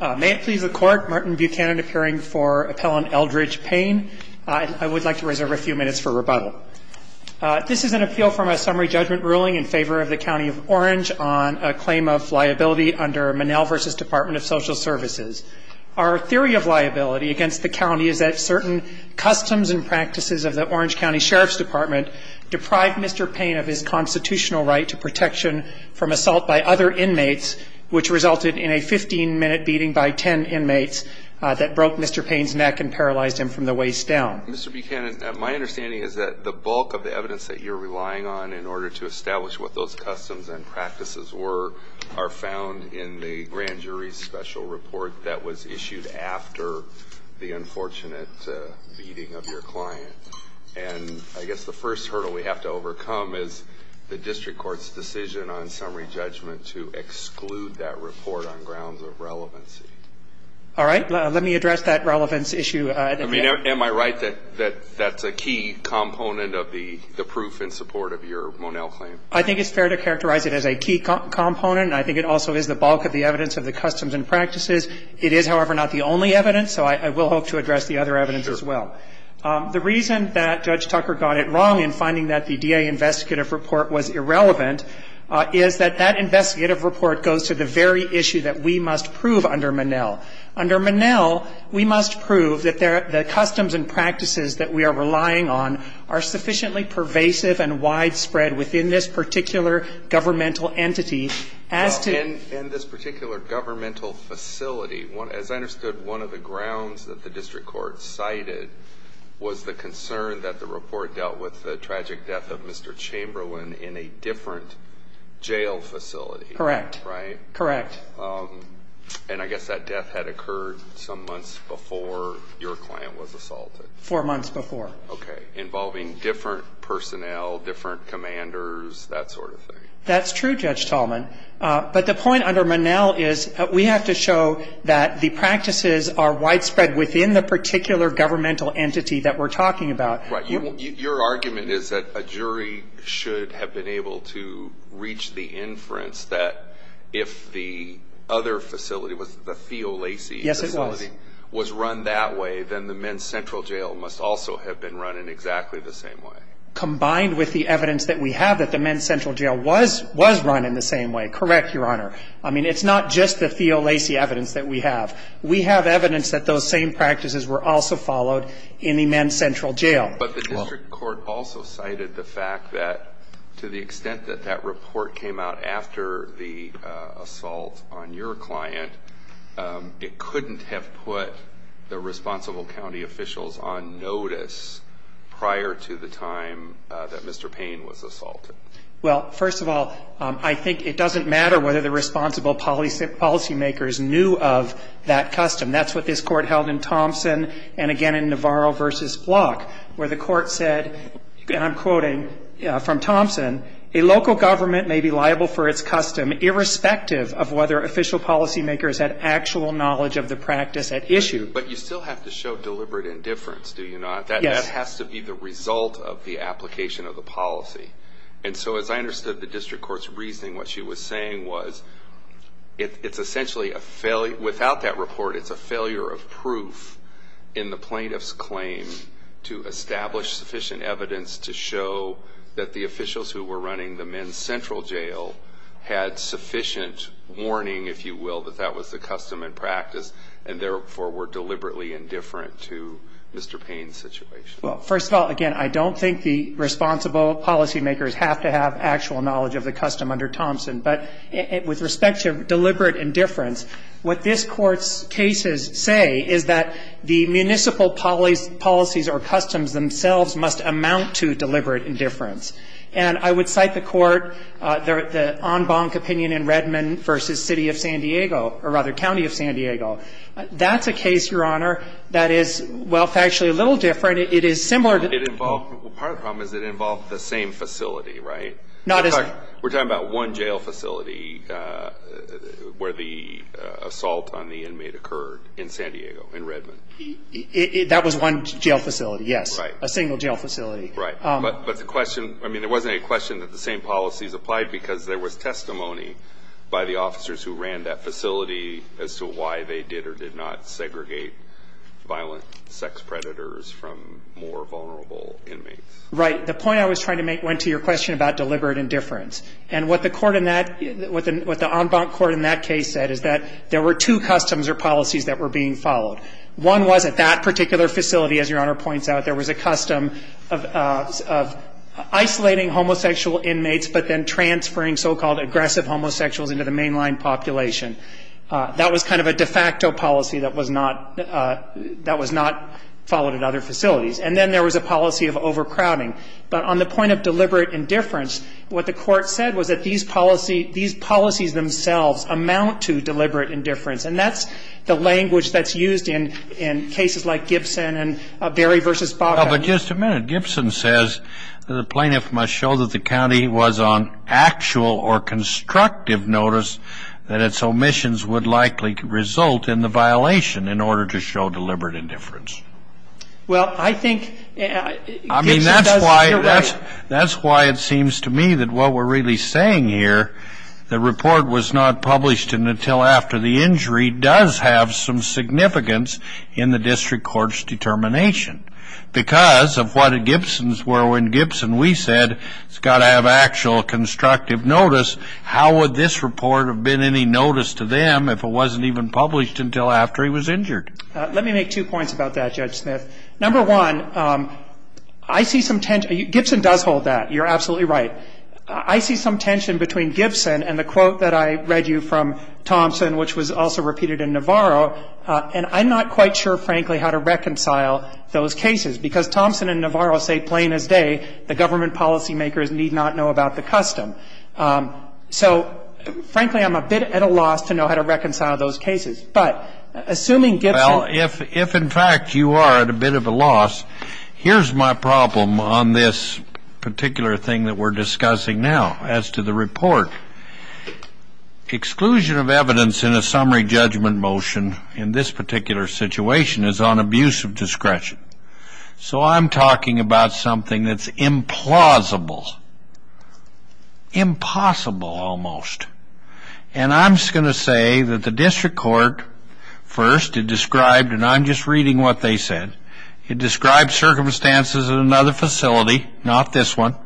May it please the court, Martin Buchanan appearing for appellant Eldridge Payne. I would like to reserve a few minutes for rebuttal. This is an appeal from a summary judgment ruling in favor of the County of Orange on a claim of liability under Monell v. Department of Social Services. Our theory of liability against the county is that certain customs and practices of the Orange County Sheriff's Department deprived Mr. Payne of his constitutional right to protection from assault by other inmates, which resulted in a 15-minute beating by 10 inmates that broke Mr. Payne's neck and paralyzed him from the waist down. Mr. Buchanan, my understanding is that the bulk of the evidence that you're relying on in order to establish what those customs and practices were are found in the grand jury's special report that was issued after the unfortunate beating of your client. And I guess the first hurdle we have to overcome is the district court's decision on summary judgment to exclude that report on grounds of relevancy. All right. Let me address that relevance issue. I mean, am I right that that's a key component of the proof in support of your Monell claim? I think it's fair to characterize it as a key component. I think it also is the bulk of the evidence of the customs and practices. It is, however, not the only evidence, so I will hope to address the other evidence as well. The reason that Judge Tucker got it wrong in finding that the DA investigative report was irrelevant is that that investigative report goes to the very issue that we must prove under Monell. Under Monell, we must prove that the customs and practices that we are relying on are sufficiently pervasive and widespread within this particular governmental entity as to ---- In this particular governmental facility, as I understood, one of the grounds that the district court cited was the concern that the report dealt with the tragic death of Mr. Chamberlain in a different jail facility. Correct. Right? Correct. And I guess that death had occurred some months before your client was assaulted. Four months before. Okay. Involving different personnel, different commanders, that sort of thing. That's true, Judge Tallman. But the point under Monell is we have to show that the practices are widespread within the particular governmental entity that we're talking about. Right. Your argument is that a jury should have been able to reach the inference that if the other facility, the Theo Lacey facility, was run that way, then the men's central jail must also have been run in exactly the same way. Combined with the evidence that we have that the men's central jail was run in the same way. Correct, Your Honor. I mean, it's not just the Theo Lacey evidence that we have. We have evidence that those same practices were also followed in the men's central jail. But the district court also cited the fact that to the extent that that report came out after the assault on your client, it couldn't have put the responsible county officials on notice prior to the time that Mr. Payne was assaulted. Well, first of all, I think it doesn't matter whether the responsible policymakers knew of that custom. That's what this Court held in Thompson and, again, in Navarro v. Block, where the Court said, and I'm quoting from Thompson, a local government may be liable for its custom, irrespective of whether official policymakers had actual knowledge of the practice at issue. But you still have to show deliberate indifference, do you not? Yes. That has to be the result of the application of the policy. And so, as I understood the district court's reasoning, what she was saying was it's essentially a failure. Without that report, it's a failure of proof in the plaintiff's claim to establish sufficient evidence to show that the officials who were running the men's central jail had sufficient warning, if you will, that that was the custom and practice and, therefore, were deliberately indifferent to Mr. Payne's situation. Well, first of all, again, I don't think the responsible policymakers have to have actual knowledge of the custom under Thompson. But with respect to deliberate indifference, what this Court's cases say is that the municipal policies or customs themselves must amount to deliberate indifference. And I would cite the court, the en banc opinion in Redmond v. City of San Diego, or rather, County of San Diego. That's a case, Your Honor, that is, well, factually a little different. It is similar to the- Well, part of the problem is it involved the same facility, right? Not as- In fact, we're talking about one jail facility where the assault on the inmate occurred in San Diego, in Redmond. That was one jail facility, yes. Right. A single jail facility. Right. But the question, I mean, there wasn't any question that the same policies applied because there was testimony by the officers who ran that facility as to why they did or did not segregate violent sex predators from more vulnerable inmates. Right. The point I was trying to make went to your question about deliberate indifference. And what the court in that, what the en banc court in that case said is that there were two customs or policies that were being followed. One was at that particular facility, as Your Honor points out, there was a custom of isolating homosexual inmates, but then transferring so-called aggressive homosexuals into the mainline population. That was kind of a de facto policy that was not followed at other facilities. And then there was a policy of overcrowding. But on the point of deliberate indifference, what the court said was that these policies themselves amount to deliberate indifference. And that's the language that's used in cases like Gibson and Berry v. Baca. But just a minute. Gibson says that the plaintiff must show that the county was on actual or constructive notice that its omissions would likely result in the violation in order to show deliberate indifference. Well, I think Gibson does it right. I mean, that's why it seems to me that what we're really saying here, the report was not published until after the injury does have some significance in the district court's determination. Because of what a Gibson's were when Gibson, we said, has got to have actual constructive notice, how would this report have been any notice to them if it wasn't even published until after he was injured? Let me make two points about that, Judge Smith. Number one, I see some tension. Gibson does hold that. You're absolutely right. I see some tension between Gibson and the quote that I read you from Thompson, which was also repeated in Navarro. And I'm not quite sure, frankly, how to reconcile those cases. Because Thompson and Navarro say plain as day, the government policymakers need not know about the custom. So, frankly, I'm a bit at a loss to know how to reconcile those cases. But assuming Gibson ---- Here's my problem on this particular thing that we're discussing now as to the report. Exclusion of evidence in a summary judgment motion in this particular situation is on abuse of discretion. So I'm talking about something that's implausible, impossible almost. And I'm just going to say that the district court first had described, and I'm just reading what they said, it described circumstances in another facility, not this one.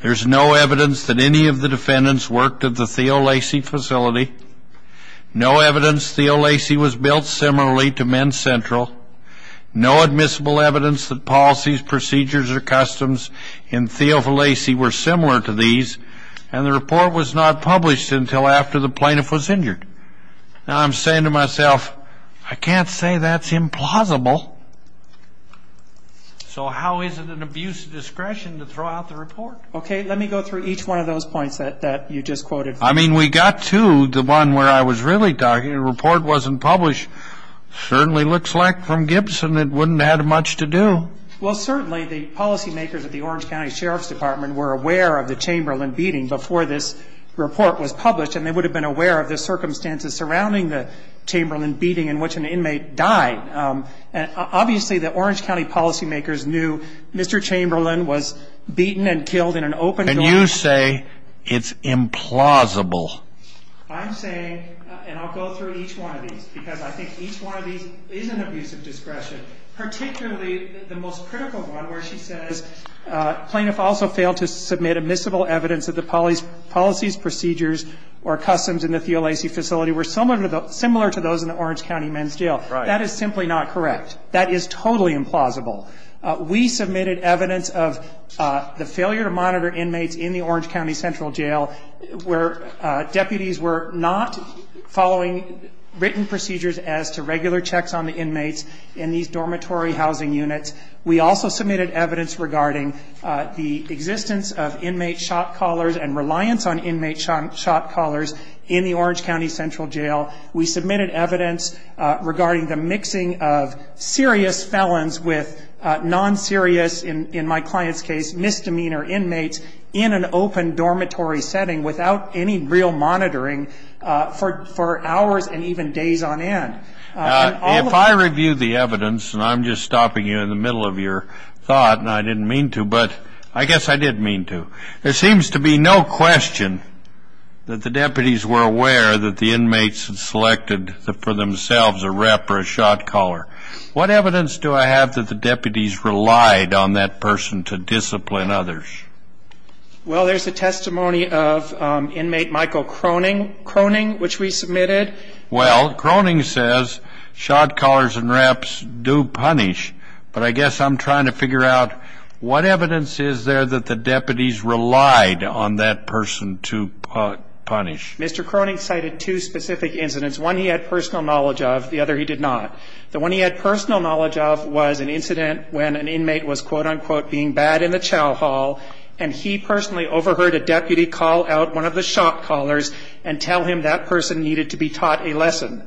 There's no evidence that any of the defendants worked at the Theo Lacey facility. No evidence Theo Lacey was built similarly to Men's Central. No admissible evidence that policies, procedures, or customs in Theo Lacey were similar to these. And the report was not published until after the plaintiff was injured. Now, I'm saying to myself, I can't say that's implausible. So how is it an abuse of discretion to throw out the report? Okay. Let me go through each one of those points that you just quoted. I mean, we got to the one where I was really talking. The report wasn't published. Certainly looks like from Gibson it wouldn't have had much to do. Well, certainly the policymakers at the Orange County Sheriff's Department were aware of the Chamberlain beating before this report was published. And they would have been aware of the circumstances surrounding the Chamberlain beating in which an inmate died. Obviously, the Orange County policymakers knew Mr. Chamberlain was beaten and killed in an open court. And you say it's implausible. I'm saying, and I'll go through each one of these, because I think each one of these is an abuse of discretion, particularly the most critical one where she says, Plaintiff also failed to submit admissible evidence that the policies, procedures, or customs in the Theo Lacey facility were similar to those in the Orange County Men's Jail. That is simply not correct. That is totally implausible. We submitted evidence of the failure to monitor inmates in the Orange County Central Jail where deputies were not following written procedures as to regular checks on the inmates in these dormitory housing units. We also submitted evidence regarding the existence of inmate shock collars and reliance on inmate shock collars in the Orange County Central Jail. We submitted evidence regarding the mixing of serious felons with non-serious, in my client's case, misdemeanor inmates in an open dormitory setting without any real monitoring for hours and even days on end. If I review the evidence, and I'm just stopping you in the middle of your thought, and I didn't mean to, but I guess I did mean to, there seems to be no question that the deputies were aware that the inmates had selected for themselves a rep or a shock collar. What evidence do I have that the deputies relied on that person to discipline others? Well, there's a testimony of inmate Michael Croning, which we submitted. Well, Croning says shock collars and reps do punish, but I guess I'm trying to figure out what evidence is there that the deputies relied on that person to punish. Mr. Croning cited two specific incidents, one he had personal knowledge of, the other he did not. The one he had personal knowledge of was an incident when an inmate was, quote, unquote, being bad in the chow hall, and he personally overheard a deputy call out one of the shock collars and tell him that person needed to be taught a lesson.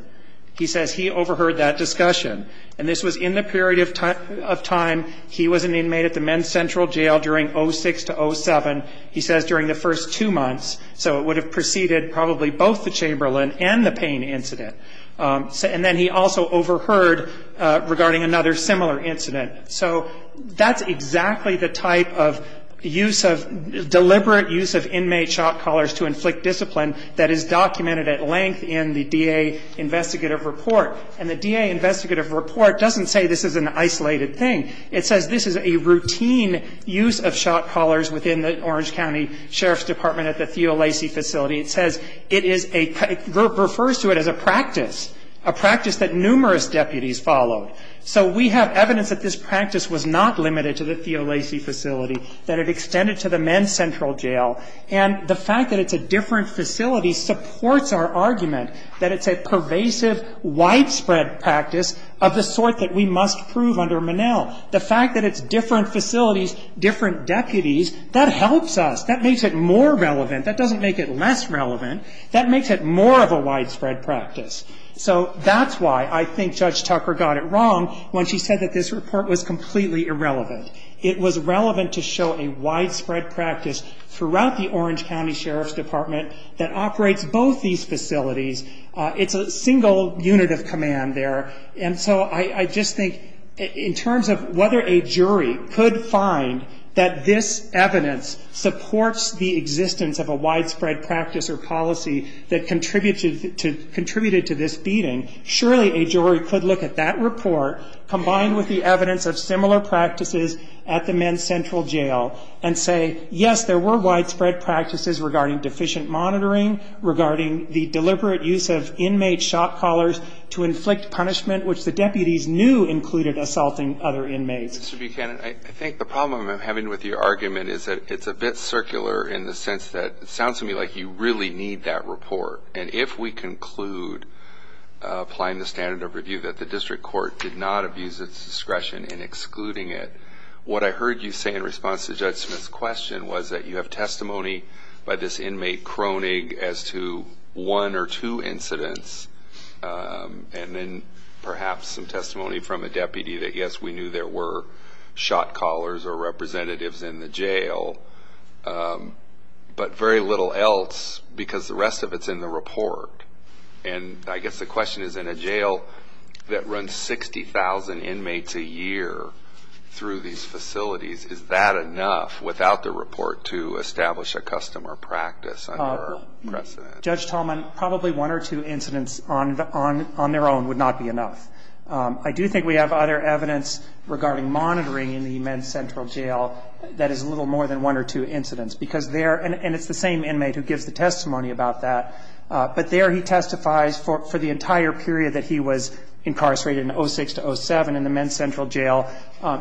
He says he overheard that discussion, and this was in the period of time he was an inmate at the Men's Central Jail during 06 to 07, he says during the first two months, so it would have preceded probably both the Chamberlain and the Payne incident. And then he also overheard regarding another similar incident. So that's exactly the type of use of ‑‑ deliberate use of inmate shock collars to inflict discipline that is documented at length in the DA investigative report. And the DA investigative report doesn't say this is an isolated thing. It says this is a routine use of shock collars within the Orange County Sheriff's Department at the Theo Lacey facility. It says it is a ‑‑ refers to it as a practice, a practice that numerous deputies followed. So we have evidence that this practice was not limited to the Theo Lacey facility, that it extended to the Men's Central Jail. And the fact that it's a different facility supports our argument that it's a pervasive, widespread practice of the sort that we must prove under Monell. The fact that it's different facilities, different deputies, that helps us. That makes it more relevant. That doesn't make it less relevant. That makes it more of a widespread practice. So that's why I think Judge Tucker got it wrong when she said that this report was completely irrelevant. It was relevant to show a widespread practice throughout the Orange County Sheriff's Department that operates both these facilities. It's a single unit of command there. And so I just think in terms of whether a jury could find that this evidence supports the existence of a widespread practice or policy that contributed to this beating, surely a jury could look at that report combined with the evidence of similar practices at the Men's Central Jail and say, yes, there were widespread practices regarding deficient monitoring, regarding the deliberate use of inmate shock collars to inflict punishment, which the deputies knew included assaulting other inmates. Mr. Buchanan, I think the problem I'm having with your argument is that it's a bit circular in the sense that it sounds to me like you really need that report. And if we conclude, applying the standard of review, that the district court did not abuse its discretion in excluding it, what I heard you say in response to Judge Smith's question was that you have testimony by this inmate croning as to one or two incidents, and then perhaps some testimony from a deputy that, yes, we knew there were shock collars or representatives in the jail, but very little else because the rest of it's in the report. And I guess the question is, in a jail that runs 60,000 inmates a year through these facilities, is that enough without the report to establish a custom or practice under our precedent? Judge Tolman, probably one or two incidents on their own would not be enough. I do think we have other evidence regarding monitoring in the men's central jail that is a little more than one or two incidents because there and it's the same inmate who gives the testimony about that, but there he testifies for the entire period that he was incarcerated in 06 to 07 in the men's central jail,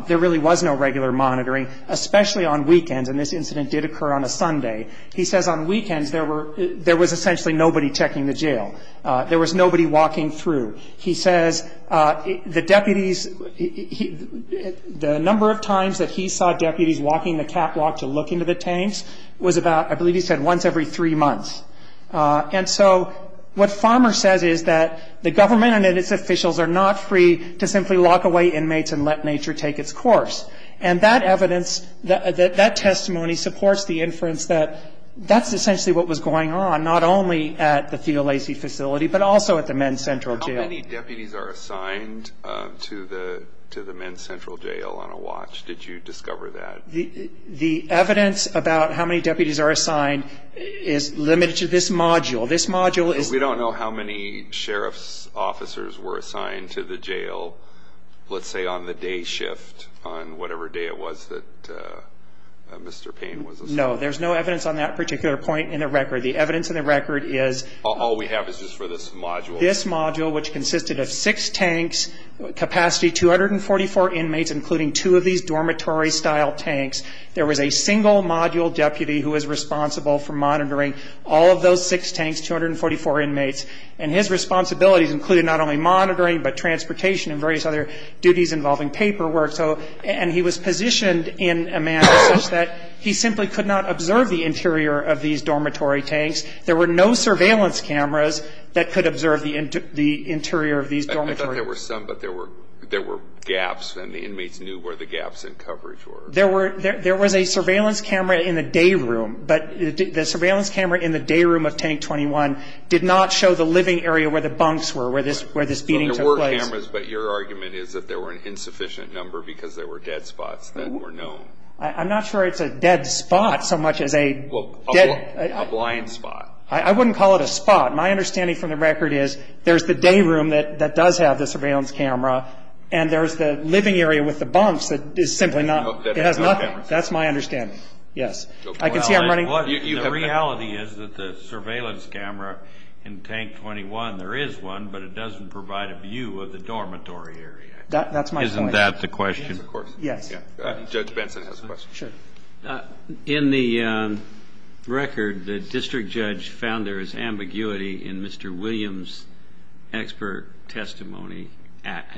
there really was no regular monitoring, especially on weekends. And this incident did occur on a Sunday. He says on weekends there was essentially nobody checking the jail. There was nobody walking through. He says the deputies, the number of times that he saw deputies walking the catwalk to look into the tanks was about, I believe he said, once every three months. And so what Farmer says is that the government and its officials are not free to simply lock away inmates and let nature take its course. And that evidence, that testimony supports the inference that that's essentially what was going on, not only at the Theo Lacey facility but also at the men's central jail. How many deputies are assigned to the men's central jail on a watch? Did you discover that? The evidence about how many deputies are assigned is limited to this module. This module is- We don't know how many sheriff's officers were assigned to the jail, let's say on the day shift on whatever day it was that Mr. Payne was assigned. No, there's no evidence on that particular point in the record. The evidence in the record is- All we have is just for this module. This module, which consisted of six tanks, capacity 244 inmates, including two of these dormitory-style tanks. There was a single module deputy who was responsible for monitoring all of those six tanks, 244 inmates. And his responsibilities included not only monitoring but transportation and various other duties involving paperwork. And he was positioned in a manner such that he simply could not observe the interior of these dormitory tanks. There were no surveillance cameras that could observe the interior of these dormitories. I thought there were some, but there were gaps, and the inmates knew where the gaps in coverage were. There was a surveillance camera in the day room, but the surveillance camera in the day room of Tank 21 did not show the living area where the bunks were, where this beating took place. There were cameras, but your argument is that there were an insufficient number because there were dead spots that were known. I'm not sure it's a dead spot so much as a- A blind spot. I wouldn't call it a spot. My understanding from the record is there's the day room that does have the surveillance camera, and there's the living area with the bunks that is simply not- That has no cameras. That's my understanding, yes. I can see I'm running- The reality is that the surveillance camera in Tank 21, there is one, but it doesn't provide a view of the dormitory area. That's my point. Isn't that the question? Yes, of course. Yes. Judge Benson has a question. Sure. In the record, the district judge found there is ambiguity in Mr. Williams' expert testimony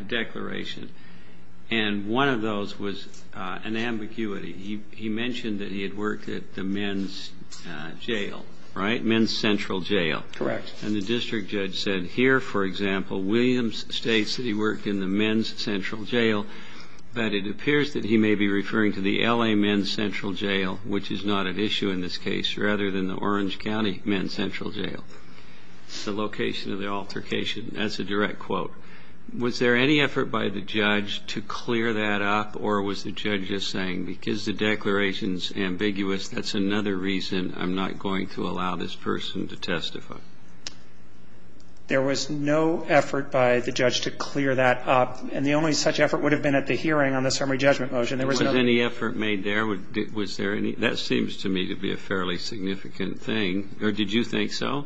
declaration, and one of those was an ambiguity. He mentioned that he had worked at the men's jail, right? Men's Central Jail. Correct. And the district judge said here, for example, Williams states that he worked in the Men's Central Jail, but it appears that he may be referring to the L.A. Men's Central Jail, which is not at issue in this case, rather than the Orange County Men's Central Jail. It's the location of the altercation. That's a direct quote. Was there any effort by the judge to clear that up, or was the judge just saying because the declaration is ambiguous, that's another reason I'm not going to allow this person to testify? There was no effort by the judge to clear that up, and the only such effort would have been at the hearing on the summary judgment motion. Was any effort made there? Was there any? That seems to me to be a fairly significant thing. Or did you think so?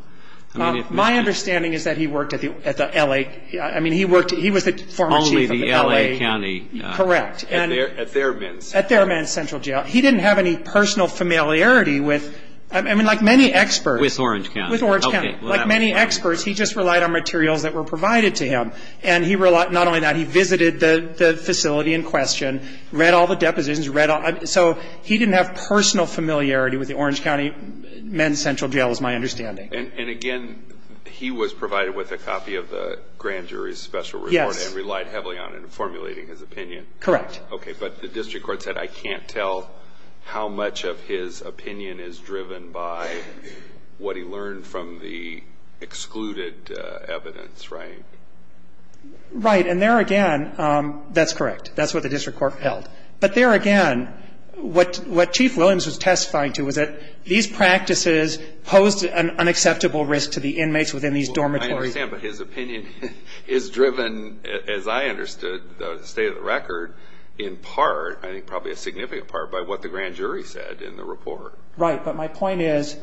My understanding is that he worked at the L.A. I mean, he was the former chief of the L.A. Only the L.A. County. Correct. At their Men's. At their Men's Central Jail. He didn't have any personal familiarity with, I mean, like many experts. With Orange County. With Orange County. Like many experts, he just relied on materials that were provided to him, and not only that, he visited the facility in question, read all the depositions. So he didn't have personal familiarity with the Orange County Men's Central Jail is my understanding. And, again, he was provided with a copy of the grand jury's special report. Yes. And relied heavily on it in formulating his opinion. Correct. Okay. But the district court said I can't tell how much of his opinion is driven by what he learned from the excluded evidence, right? Right. And there again, that's correct. That's what the district court held. But there again, what Chief Williams was testifying to was that these practices posed an unacceptable risk to the inmates within these dormitories. I understand, but his opinion is driven, as I understood, state of the record, in part, I think probably a significant part, by what the grand jury said in the report. Right. But my point is,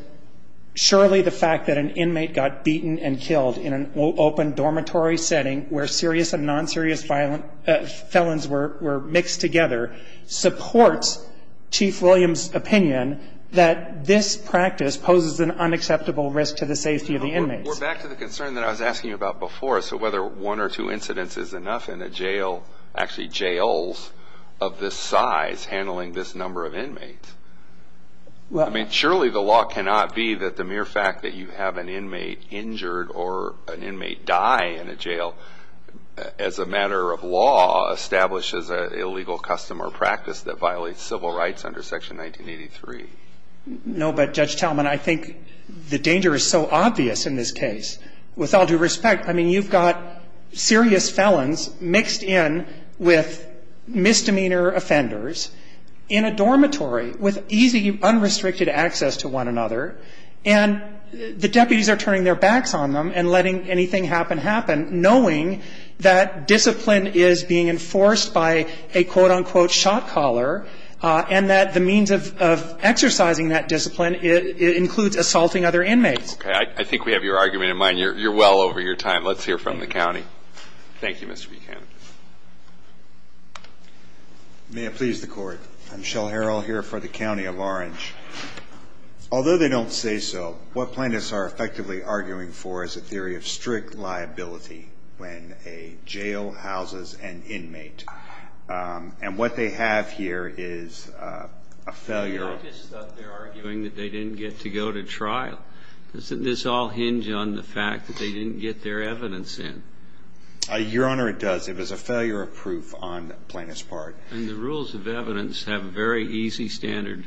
surely the fact that an inmate got beaten and killed in an open dormitory setting where serious and non-serious felons were mixed together supports Chief Williams' opinion that this practice poses an unacceptable risk to the safety of the inmates. We're back to the concern that I was asking you about before. So whether one or two incidents is enough in a jail, actually jails of this size, handling this number of inmates. I mean, surely the law cannot be that the mere fact that you have an inmate injured or an inmate die in a jail, as a matter of law, establishes an illegal custom or practice that violates civil rights under Section 1983. No, but, Judge Tallman, I think the danger is so obvious in this case. With all due respect, I mean, you've got serious felons mixed in with misdemeanor offenders in a dormitory with easy, unrestricted access to one another. And the deputies are turning their backs on them and letting anything happen happen, knowing that discipline is being enforced by a quote, unquote, shot caller, and that the means of exercising that discipline includes assaulting other inmates. Okay. I think we have your argument in mind. You're well over your time. Let's hear from the county. Thank you. Thank you, Mr. Buchanan. May it please the Court. I'm Shell Harrell here for the County of Orange. Although they don't say so, what plaintiffs are effectively arguing for is a theory of strict liability when a jail houses an inmate. And what they have here is a failure of proof. I just thought they were arguing that they didn't get to go to trial. Doesn't this all hinge on the fact that they didn't get their evidence in? Your Honor, it does. It was a failure of proof on the plaintiff's part. And the rules of evidence have a very easy standard,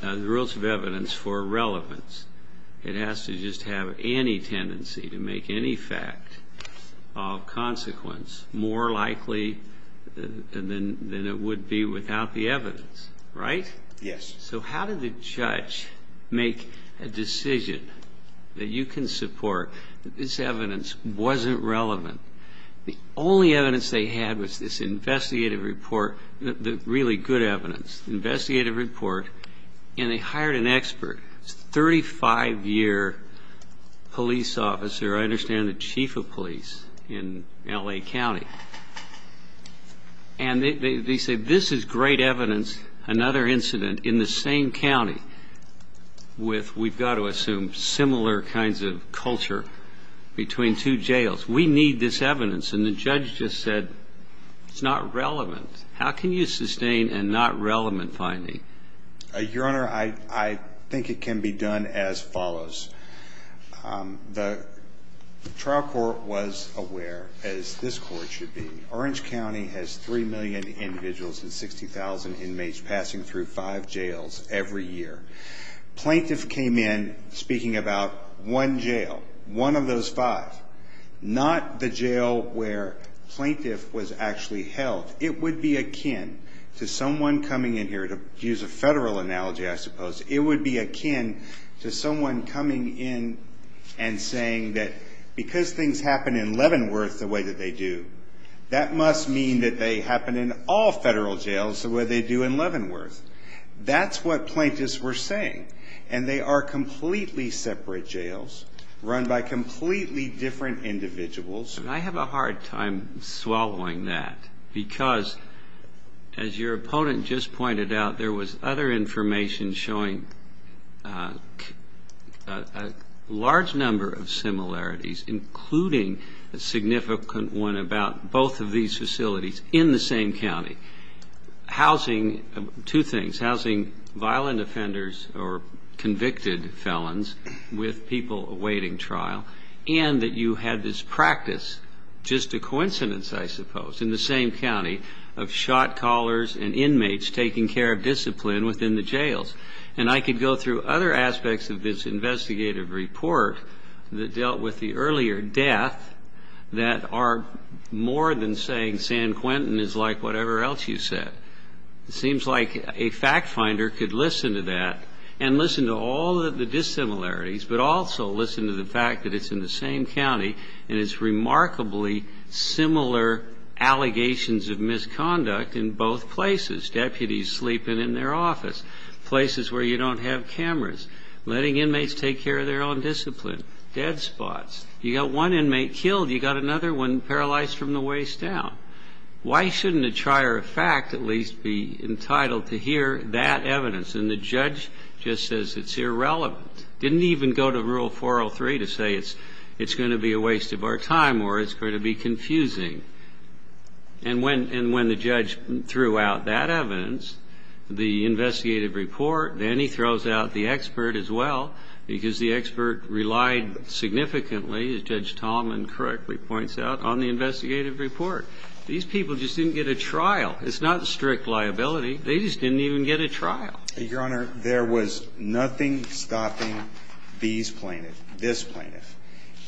the rules of evidence for relevance. It has to just have any tendency to make any fact of consequence more likely than it would be without the evidence. Right? Yes. So how did the judge make a decision that you can support that this evidence wasn't relevant? The only evidence they had was this investigative report, really good evidence, investigative report, and they hired an expert, 35-year police officer, I understand the chief of police in L.A. County. And they say this is great evidence, another incident in the same county with, we've got to assume, similar kinds of culture between two jails. We need this evidence. And the judge just said it's not relevant. How can you sustain a not relevant finding? Your Honor, I think it can be done as follows. The trial court was aware, as this court should be, Orange County has 3 million individuals and 60,000 inmates passing through five jails every year. Plaintiff came in speaking about one jail, one of those five, not the jail where plaintiff was actually held. It would be akin to someone coming in here, to use a federal analogy, I suppose, it would be akin to someone coming in and saying that because things happen in Leavenworth the way that they do, that must mean that they happen in all federal jails the way they do in Leavenworth. That's what plaintiffs were saying. And they are completely separate jails run by completely different individuals. And I have a hard time swallowing that because, as your opponent just pointed out, there was other information showing a large number of similarities, including a significant one about both of these facilities in the same county. Housing, two things, housing violent offenders or convicted felons with people awaiting trial, and that you had this practice, just a coincidence, I suppose, in the same county of shot callers and inmates taking care of discipline within the jails. And I could go through other aspects of this investigative report that dealt with the earlier death that are more than saying San Quentin is like whatever else you said. It seems like a fact finder could listen to that and listen to all of the dissimilarities, but also listen to the fact that it's in the same county and it's remarkably similar allegations of misconduct in both places, deputies sleeping in their office, places where you don't have cameras, letting inmates take care of their own discipline, dead spots. You got one inmate killed. You got another one paralyzed from the waist down. Why shouldn't a trier of fact at least be entitled to hear that evidence? And the judge just says it's irrelevant, didn't even go to Rule 403 to say it's going to be a waste of our time or it's going to be confusing. And when the judge threw out that evidence, the investigative report, then he throws out the expert as well because the expert relied significantly, as Judge Tallman correctly points out, on the investigative report. These people just didn't get a trial. It's not strict liability. They just didn't even get a trial. Your Honor, there was nothing stopping these plaintiffs, this plaintiff,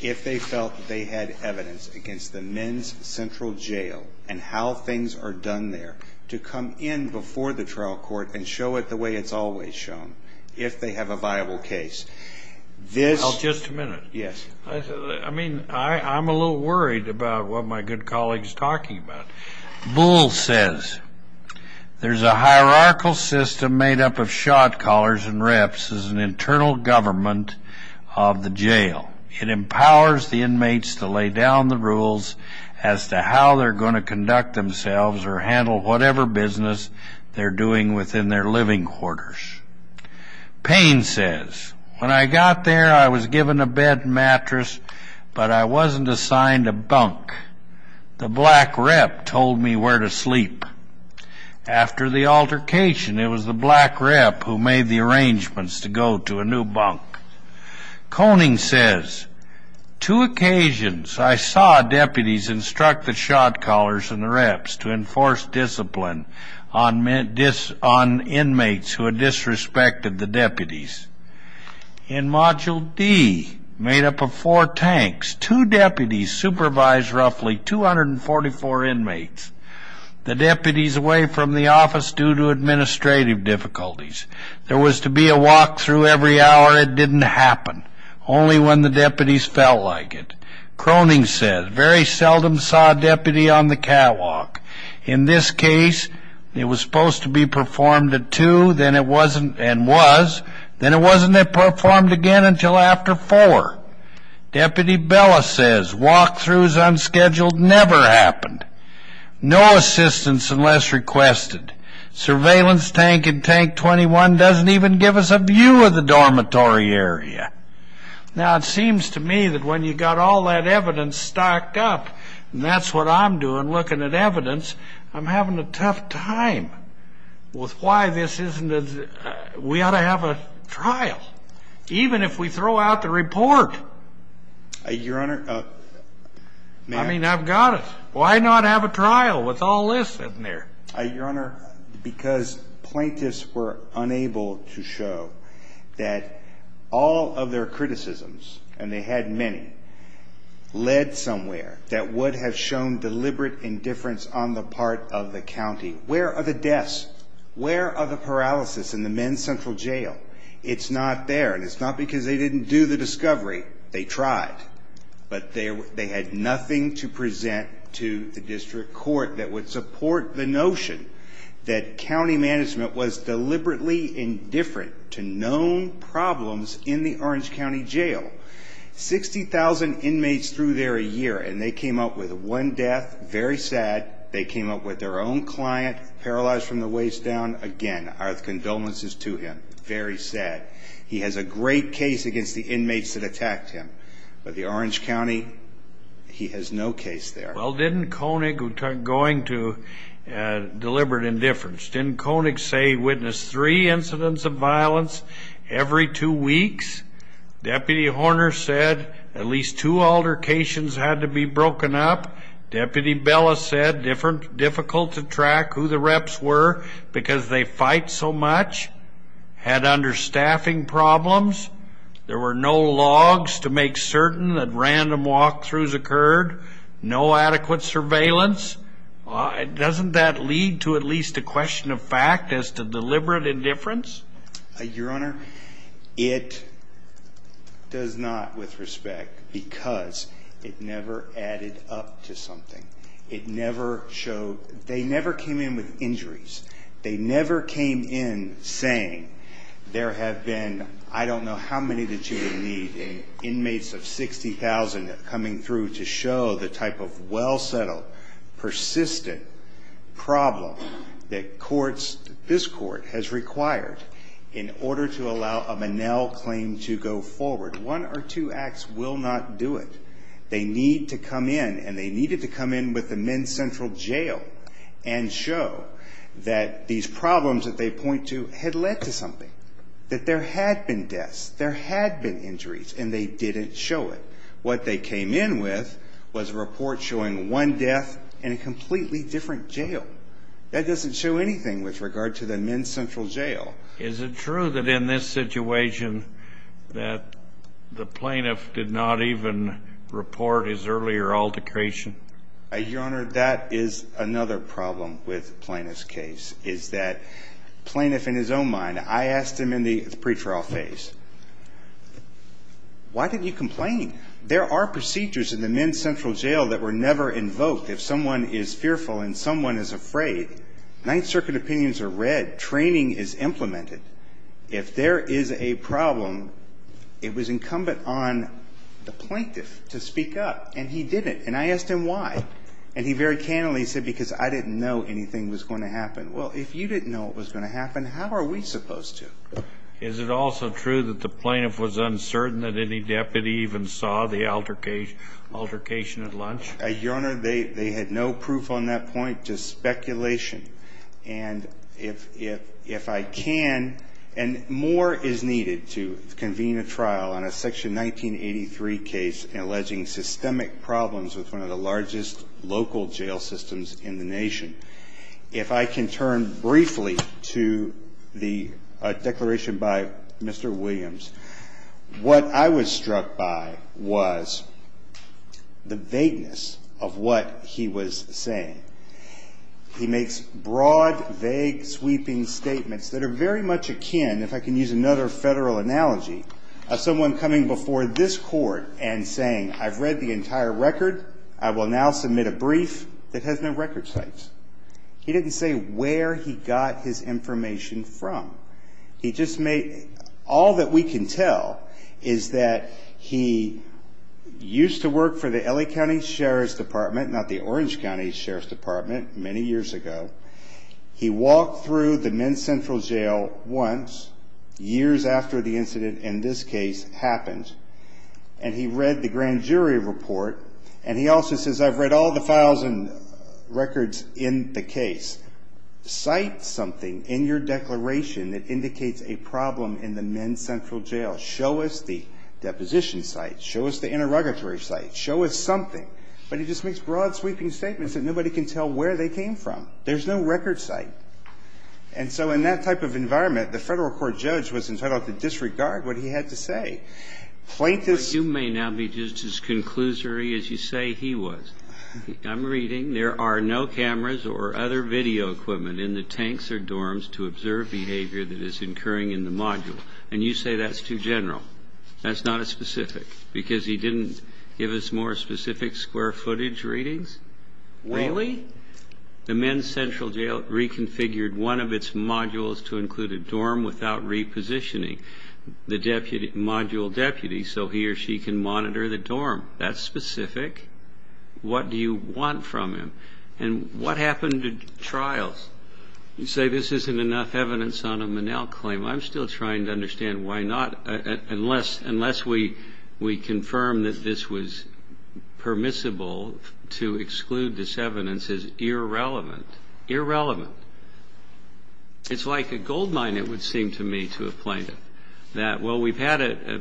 if they felt that they had evidence against the men's central jail and how things are done there to come in before the trial court and show it the way it's always shown, if they have a viable case. Just a minute. Yes. I mean, I'm a little worried about what my good colleague is talking about. Bull says, there's a hierarchical system made up of shot callers and reps as an internal government of the jail. It empowers the inmates to lay down the rules as to how they're going to conduct themselves or handle whatever business they're doing within their living quarters. Payne says, when I got there, I was given a bed and mattress, but I wasn't assigned a bunk. The black rep told me where to sleep. After the altercation, it was the black rep who made the arrangements to go to a new bunk. Koning says, two occasions I saw deputies instruct the shot callers and the reps to enforce discipline on inmates who had disrespected the deputies. In Module D, made up of four tanks, two deputies supervised roughly 244 inmates, the deputies away from the office due to administrative difficulties. There was to be a walkthrough every hour. It didn't happen. Only when the deputies felt like it. Kroning says, very seldom saw a deputy on the catwalk. In this case, it was supposed to be performed at two and was, then it wasn't performed again until after four. Deputy Bella says, walkthroughs unscheduled never happened. No assistance unless requested. Surveillance tank in tank 21 doesn't even give us a view of the dormitory area. Now, it seems to me that when you've got all that evidence stocked up, and that's what I'm doing looking at evidence, I'm having a tough time with why this isn't a, we ought to have a trial. Even if we throw out the report. Your Honor, I mean, I've got it. Why not have a trial with all this in there? Your Honor, because plaintiffs were unable to show that all of their criticisms, and they had many, led somewhere that would have shown deliberate indifference on the part of the county. Where are the deaths? Where are the paralysis in the men's central jail? It's not there. And it's not because they didn't do the discovery. They tried. But they had nothing to present to the district court that would support the notion that county management was deliberately indifferent to known problems in the Orange County Jail. 60,000 inmates through there a year, and they came up with one death. Very sad. They came up with their own client paralyzed from the waist down. Again, our condolences to him. Very sad. He has a great case against the inmates that attacked him, but the Orange County, he has no case there. Well, didn't Koenig, going to deliberate indifference, didn't Koenig say he witnessed three incidents of violence every two weeks? Deputy Horner said at least two altercations had to be broken up. Deputy Bella said difficult to track who the reps were because they fight so much. Had understaffing problems. There were no logs to make certain that random walkthroughs occurred. No adequate surveillance. Doesn't that lead to at least a question of fact as to deliberate indifference? Your Honor, it does not with respect because it never added up to something. It never showed. They never came in with injuries. They never came in saying there have been, I don't know how many that you would need, inmates of 60,000 coming through to show the type of well-settled, persistent problem that courts, this court has required in order to allow a Manel claim to go forward. One or two acts will not do it. They need to come in, and they needed to come in with the Men's Central Jail and show that these problems that they point to had led to something, that there had been deaths, there had been injuries, and they didn't show it. What they came in with was a report showing one death in a completely different jail. That doesn't show anything with regard to the Men's Central Jail. Is it true that in this situation that the plaintiff did not even report his earlier altercation? Your Honor, that is another problem with the plaintiff's case, is that the plaintiff in his own mind, I asked him in the pretrial phase, why did you complain? There are procedures in the Men's Central Jail that were never invoked. If someone is fearful and someone is afraid, Ninth Circuit opinions are read. That training is implemented. If there is a problem, it was incumbent on the plaintiff to speak up, and he didn't. And I asked him why. And he very candidly said, because I didn't know anything was going to happen. Well, if you didn't know what was going to happen, how are we supposed to? Is it also true that the plaintiff was uncertain that any deputy even saw the altercation at lunch? Your Honor, they had no proof on that point, just speculation. And if I can, and more is needed to convene a trial on a Section 1983 case alleging systemic problems with one of the largest local jail systems in the nation. If I can turn briefly to the declaration by Mr. Williams. What I was struck by was the vagueness of what he was saying. He makes broad, vague, sweeping statements that are very much akin, if I can use another federal analogy, of someone coming before this Court and saying, I've read the entire record. I will now submit a brief that has no record sites. He didn't say where he got his information from. He just made, all that we can tell is that he used to work for the LA County Sheriff's Department many years ago. He walked through the Men's Central Jail once, years after the incident in this case happened, and he read the grand jury report. And he also says, I've read all the files and records in the case. Cite something in your declaration that indicates a problem in the Men's Central Jail. Show us the deposition site. Show us the interrogatory site. Show us something. But he just makes broad, sweeping statements that nobody can tell where they came from. There's no record site. And so in that type of environment, the Federal Court judge was entitled to disregard what he had to say. Plaintiffs ---- But you may now be just as conclusory as you say he was. I'm reading, there are no cameras or other video equipment in the tanks or dorms to observe behavior that is occurring in the module. And you say that's too general. That's not as specific. Because he didn't give us more specific square footage readings? Really? The Men's Central Jail reconfigured one of its modules to include a dorm without repositioning the module deputy so he or she can monitor the dorm. That's specific. What do you want from him? And what happened to trials? You say this isn't enough evidence on a Monell claim. I'm still trying to understand why not, unless we confirm that this was permissible to exclude this evidence as irrelevant. Irrelevant. It's like a goldmine, it would seem to me, to a plaintiff. That, well, we've had a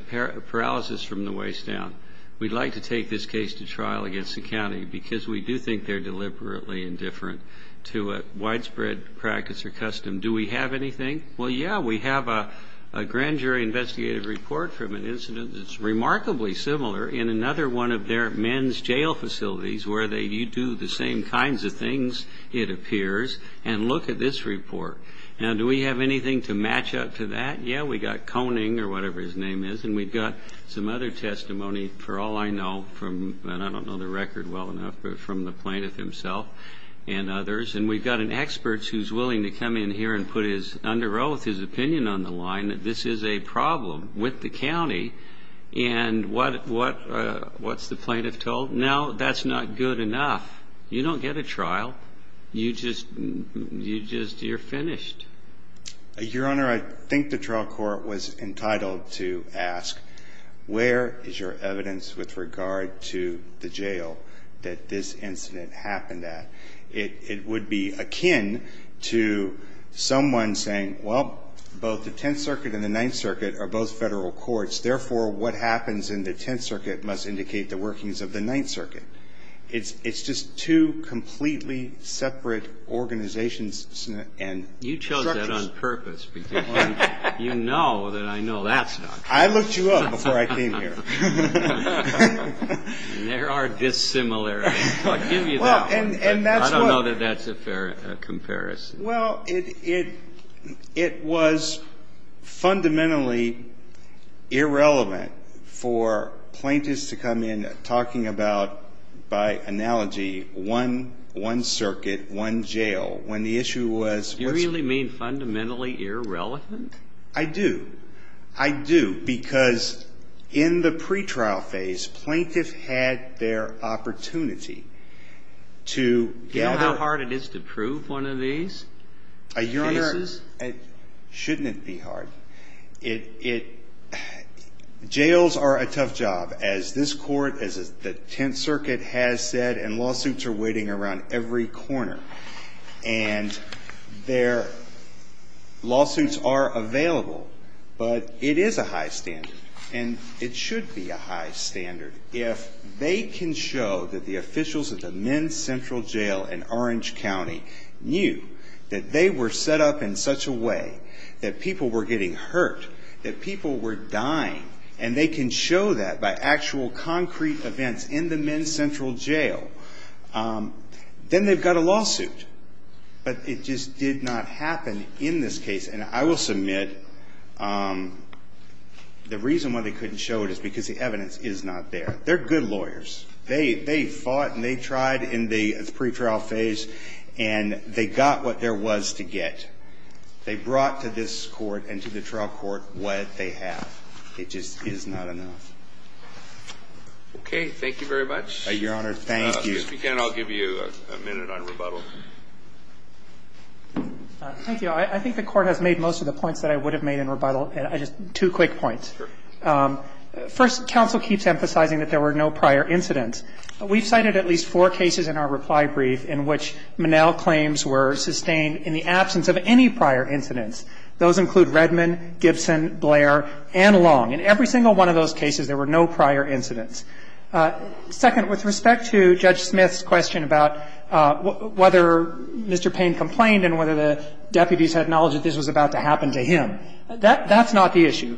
paralysis from the waist down. We'd like to take this case to trial against the county because we do think they're deliberately indifferent to a widespread practice or custom. Do we have anything? Well, yeah, we have a grand jury investigative report from an incident that's remarkably similar in another one of their men's jail facilities where you do the same kinds of things, it appears, and look at this report. Now, do we have anything to match up to that? Yeah, we've got Koning, or whatever his name is, and we've got some other testimony, for all I know, and I don't know the record well enough, but from the plaintiff himself and others. And we've got an expert who's willing to come in here and put his under oath, his opinion on the line that this is a problem with the county, and what's the plaintiff told? No, that's not good enough. You don't get a trial. You just, you're finished. Your Honor, I think the trial court was entitled to ask, where is your evidence with regard to the jail that this incident happened at? It would be akin to someone saying, well, both the Tenth Circuit and the Ninth Circuit are both federal courts, therefore what happens in the Tenth Circuit must indicate the workings of the Ninth Circuit. It's just two completely separate organizations and structures. You chose that on purpose because you know that I know that's not true. I looked you up before I came here. There are dissimilarities. I'll give you that one. I don't know that that's a fair comparison. Well, it was fundamentally irrelevant for plaintiffs to come in talking about, by analogy, one circuit, one jail, when the issue was what's- You really mean fundamentally irrelevant? I do. I do because in the pretrial phase, plaintiffs had their opportunity to gather- Do you know how hard it is to prove one of these cases? Your Honor, shouldn't it be hard? Jails are a tough job, as this court, as the Tenth Circuit has said, and lawsuits are waiting around every corner. And their lawsuits are available, but it is a high standard, and it should be a high standard. If they can show that the officials of the Men's Central Jail in Orange County knew that they were set up in such a way that people were getting hurt, that people were dying, and they can show that by actual concrete events in the Men's Central Jail, then they've got a lawsuit. But it just did not happen in this case. And I will submit the reason why they couldn't show it is because the evidence is not there. They're good lawyers. They fought and they tried in the pretrial phase, and they got what there was to get. They brought to this court and to the trial court what they have. It just is not enough. Okay. Thank you very much. Your Honor, thank you. Mr. Kagan, I'll give you a minute on rebuttal. Thank you. I think the Court has made most of the points that I would have made in rebuttal. Just two quick points. Sure. First, counsel keeps emphasizing that there were no prior incidents. We've cited at least four cases in our reply brief in which Monell claims were sustained in the absence of any prior incidents. Those include Redman, Gibson, Blair, and Long. In every single one of those cases, there were no prior incidents. Second, with respect to Judge Smith's question about whether Mr. Payne complained and whether the deputies had knowledge that this was about to happen to him, that's not the issue.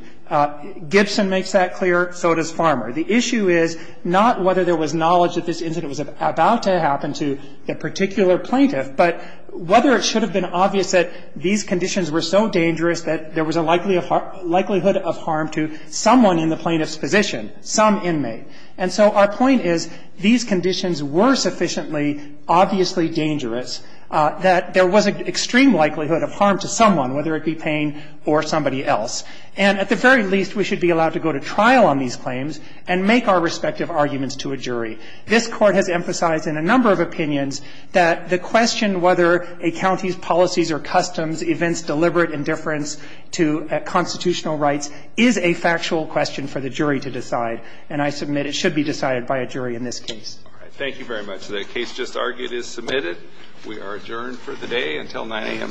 Gibson makes that clear. So does Farmer. The issue is not whether there was knowledge that this incident was about to happen to a particular plaintiff, but whether it should have been obvious that these conditions were so dangerous that there was a likelihood of harm to someone in the plaintiff's position, some inmate. And so our point is, these conditions were sufficiently obviously dangerous that there was an extreme likelihood of harm to someone, whether it be Payne or somebody else. And at the very least, we should be allowed to go to trial on these claims and make our respective arguments to a jury. This Court has emphasized in a number of opinions that the question whether a county's policies or customs, events deliberate indifference to constitutional rights is a factual question for the jury to decide. And I submit it should be decided by a jury in this case. Thank you very much. The case just argued is submitted. We are adjourned for the day until 9 a.m. tomorrow morning.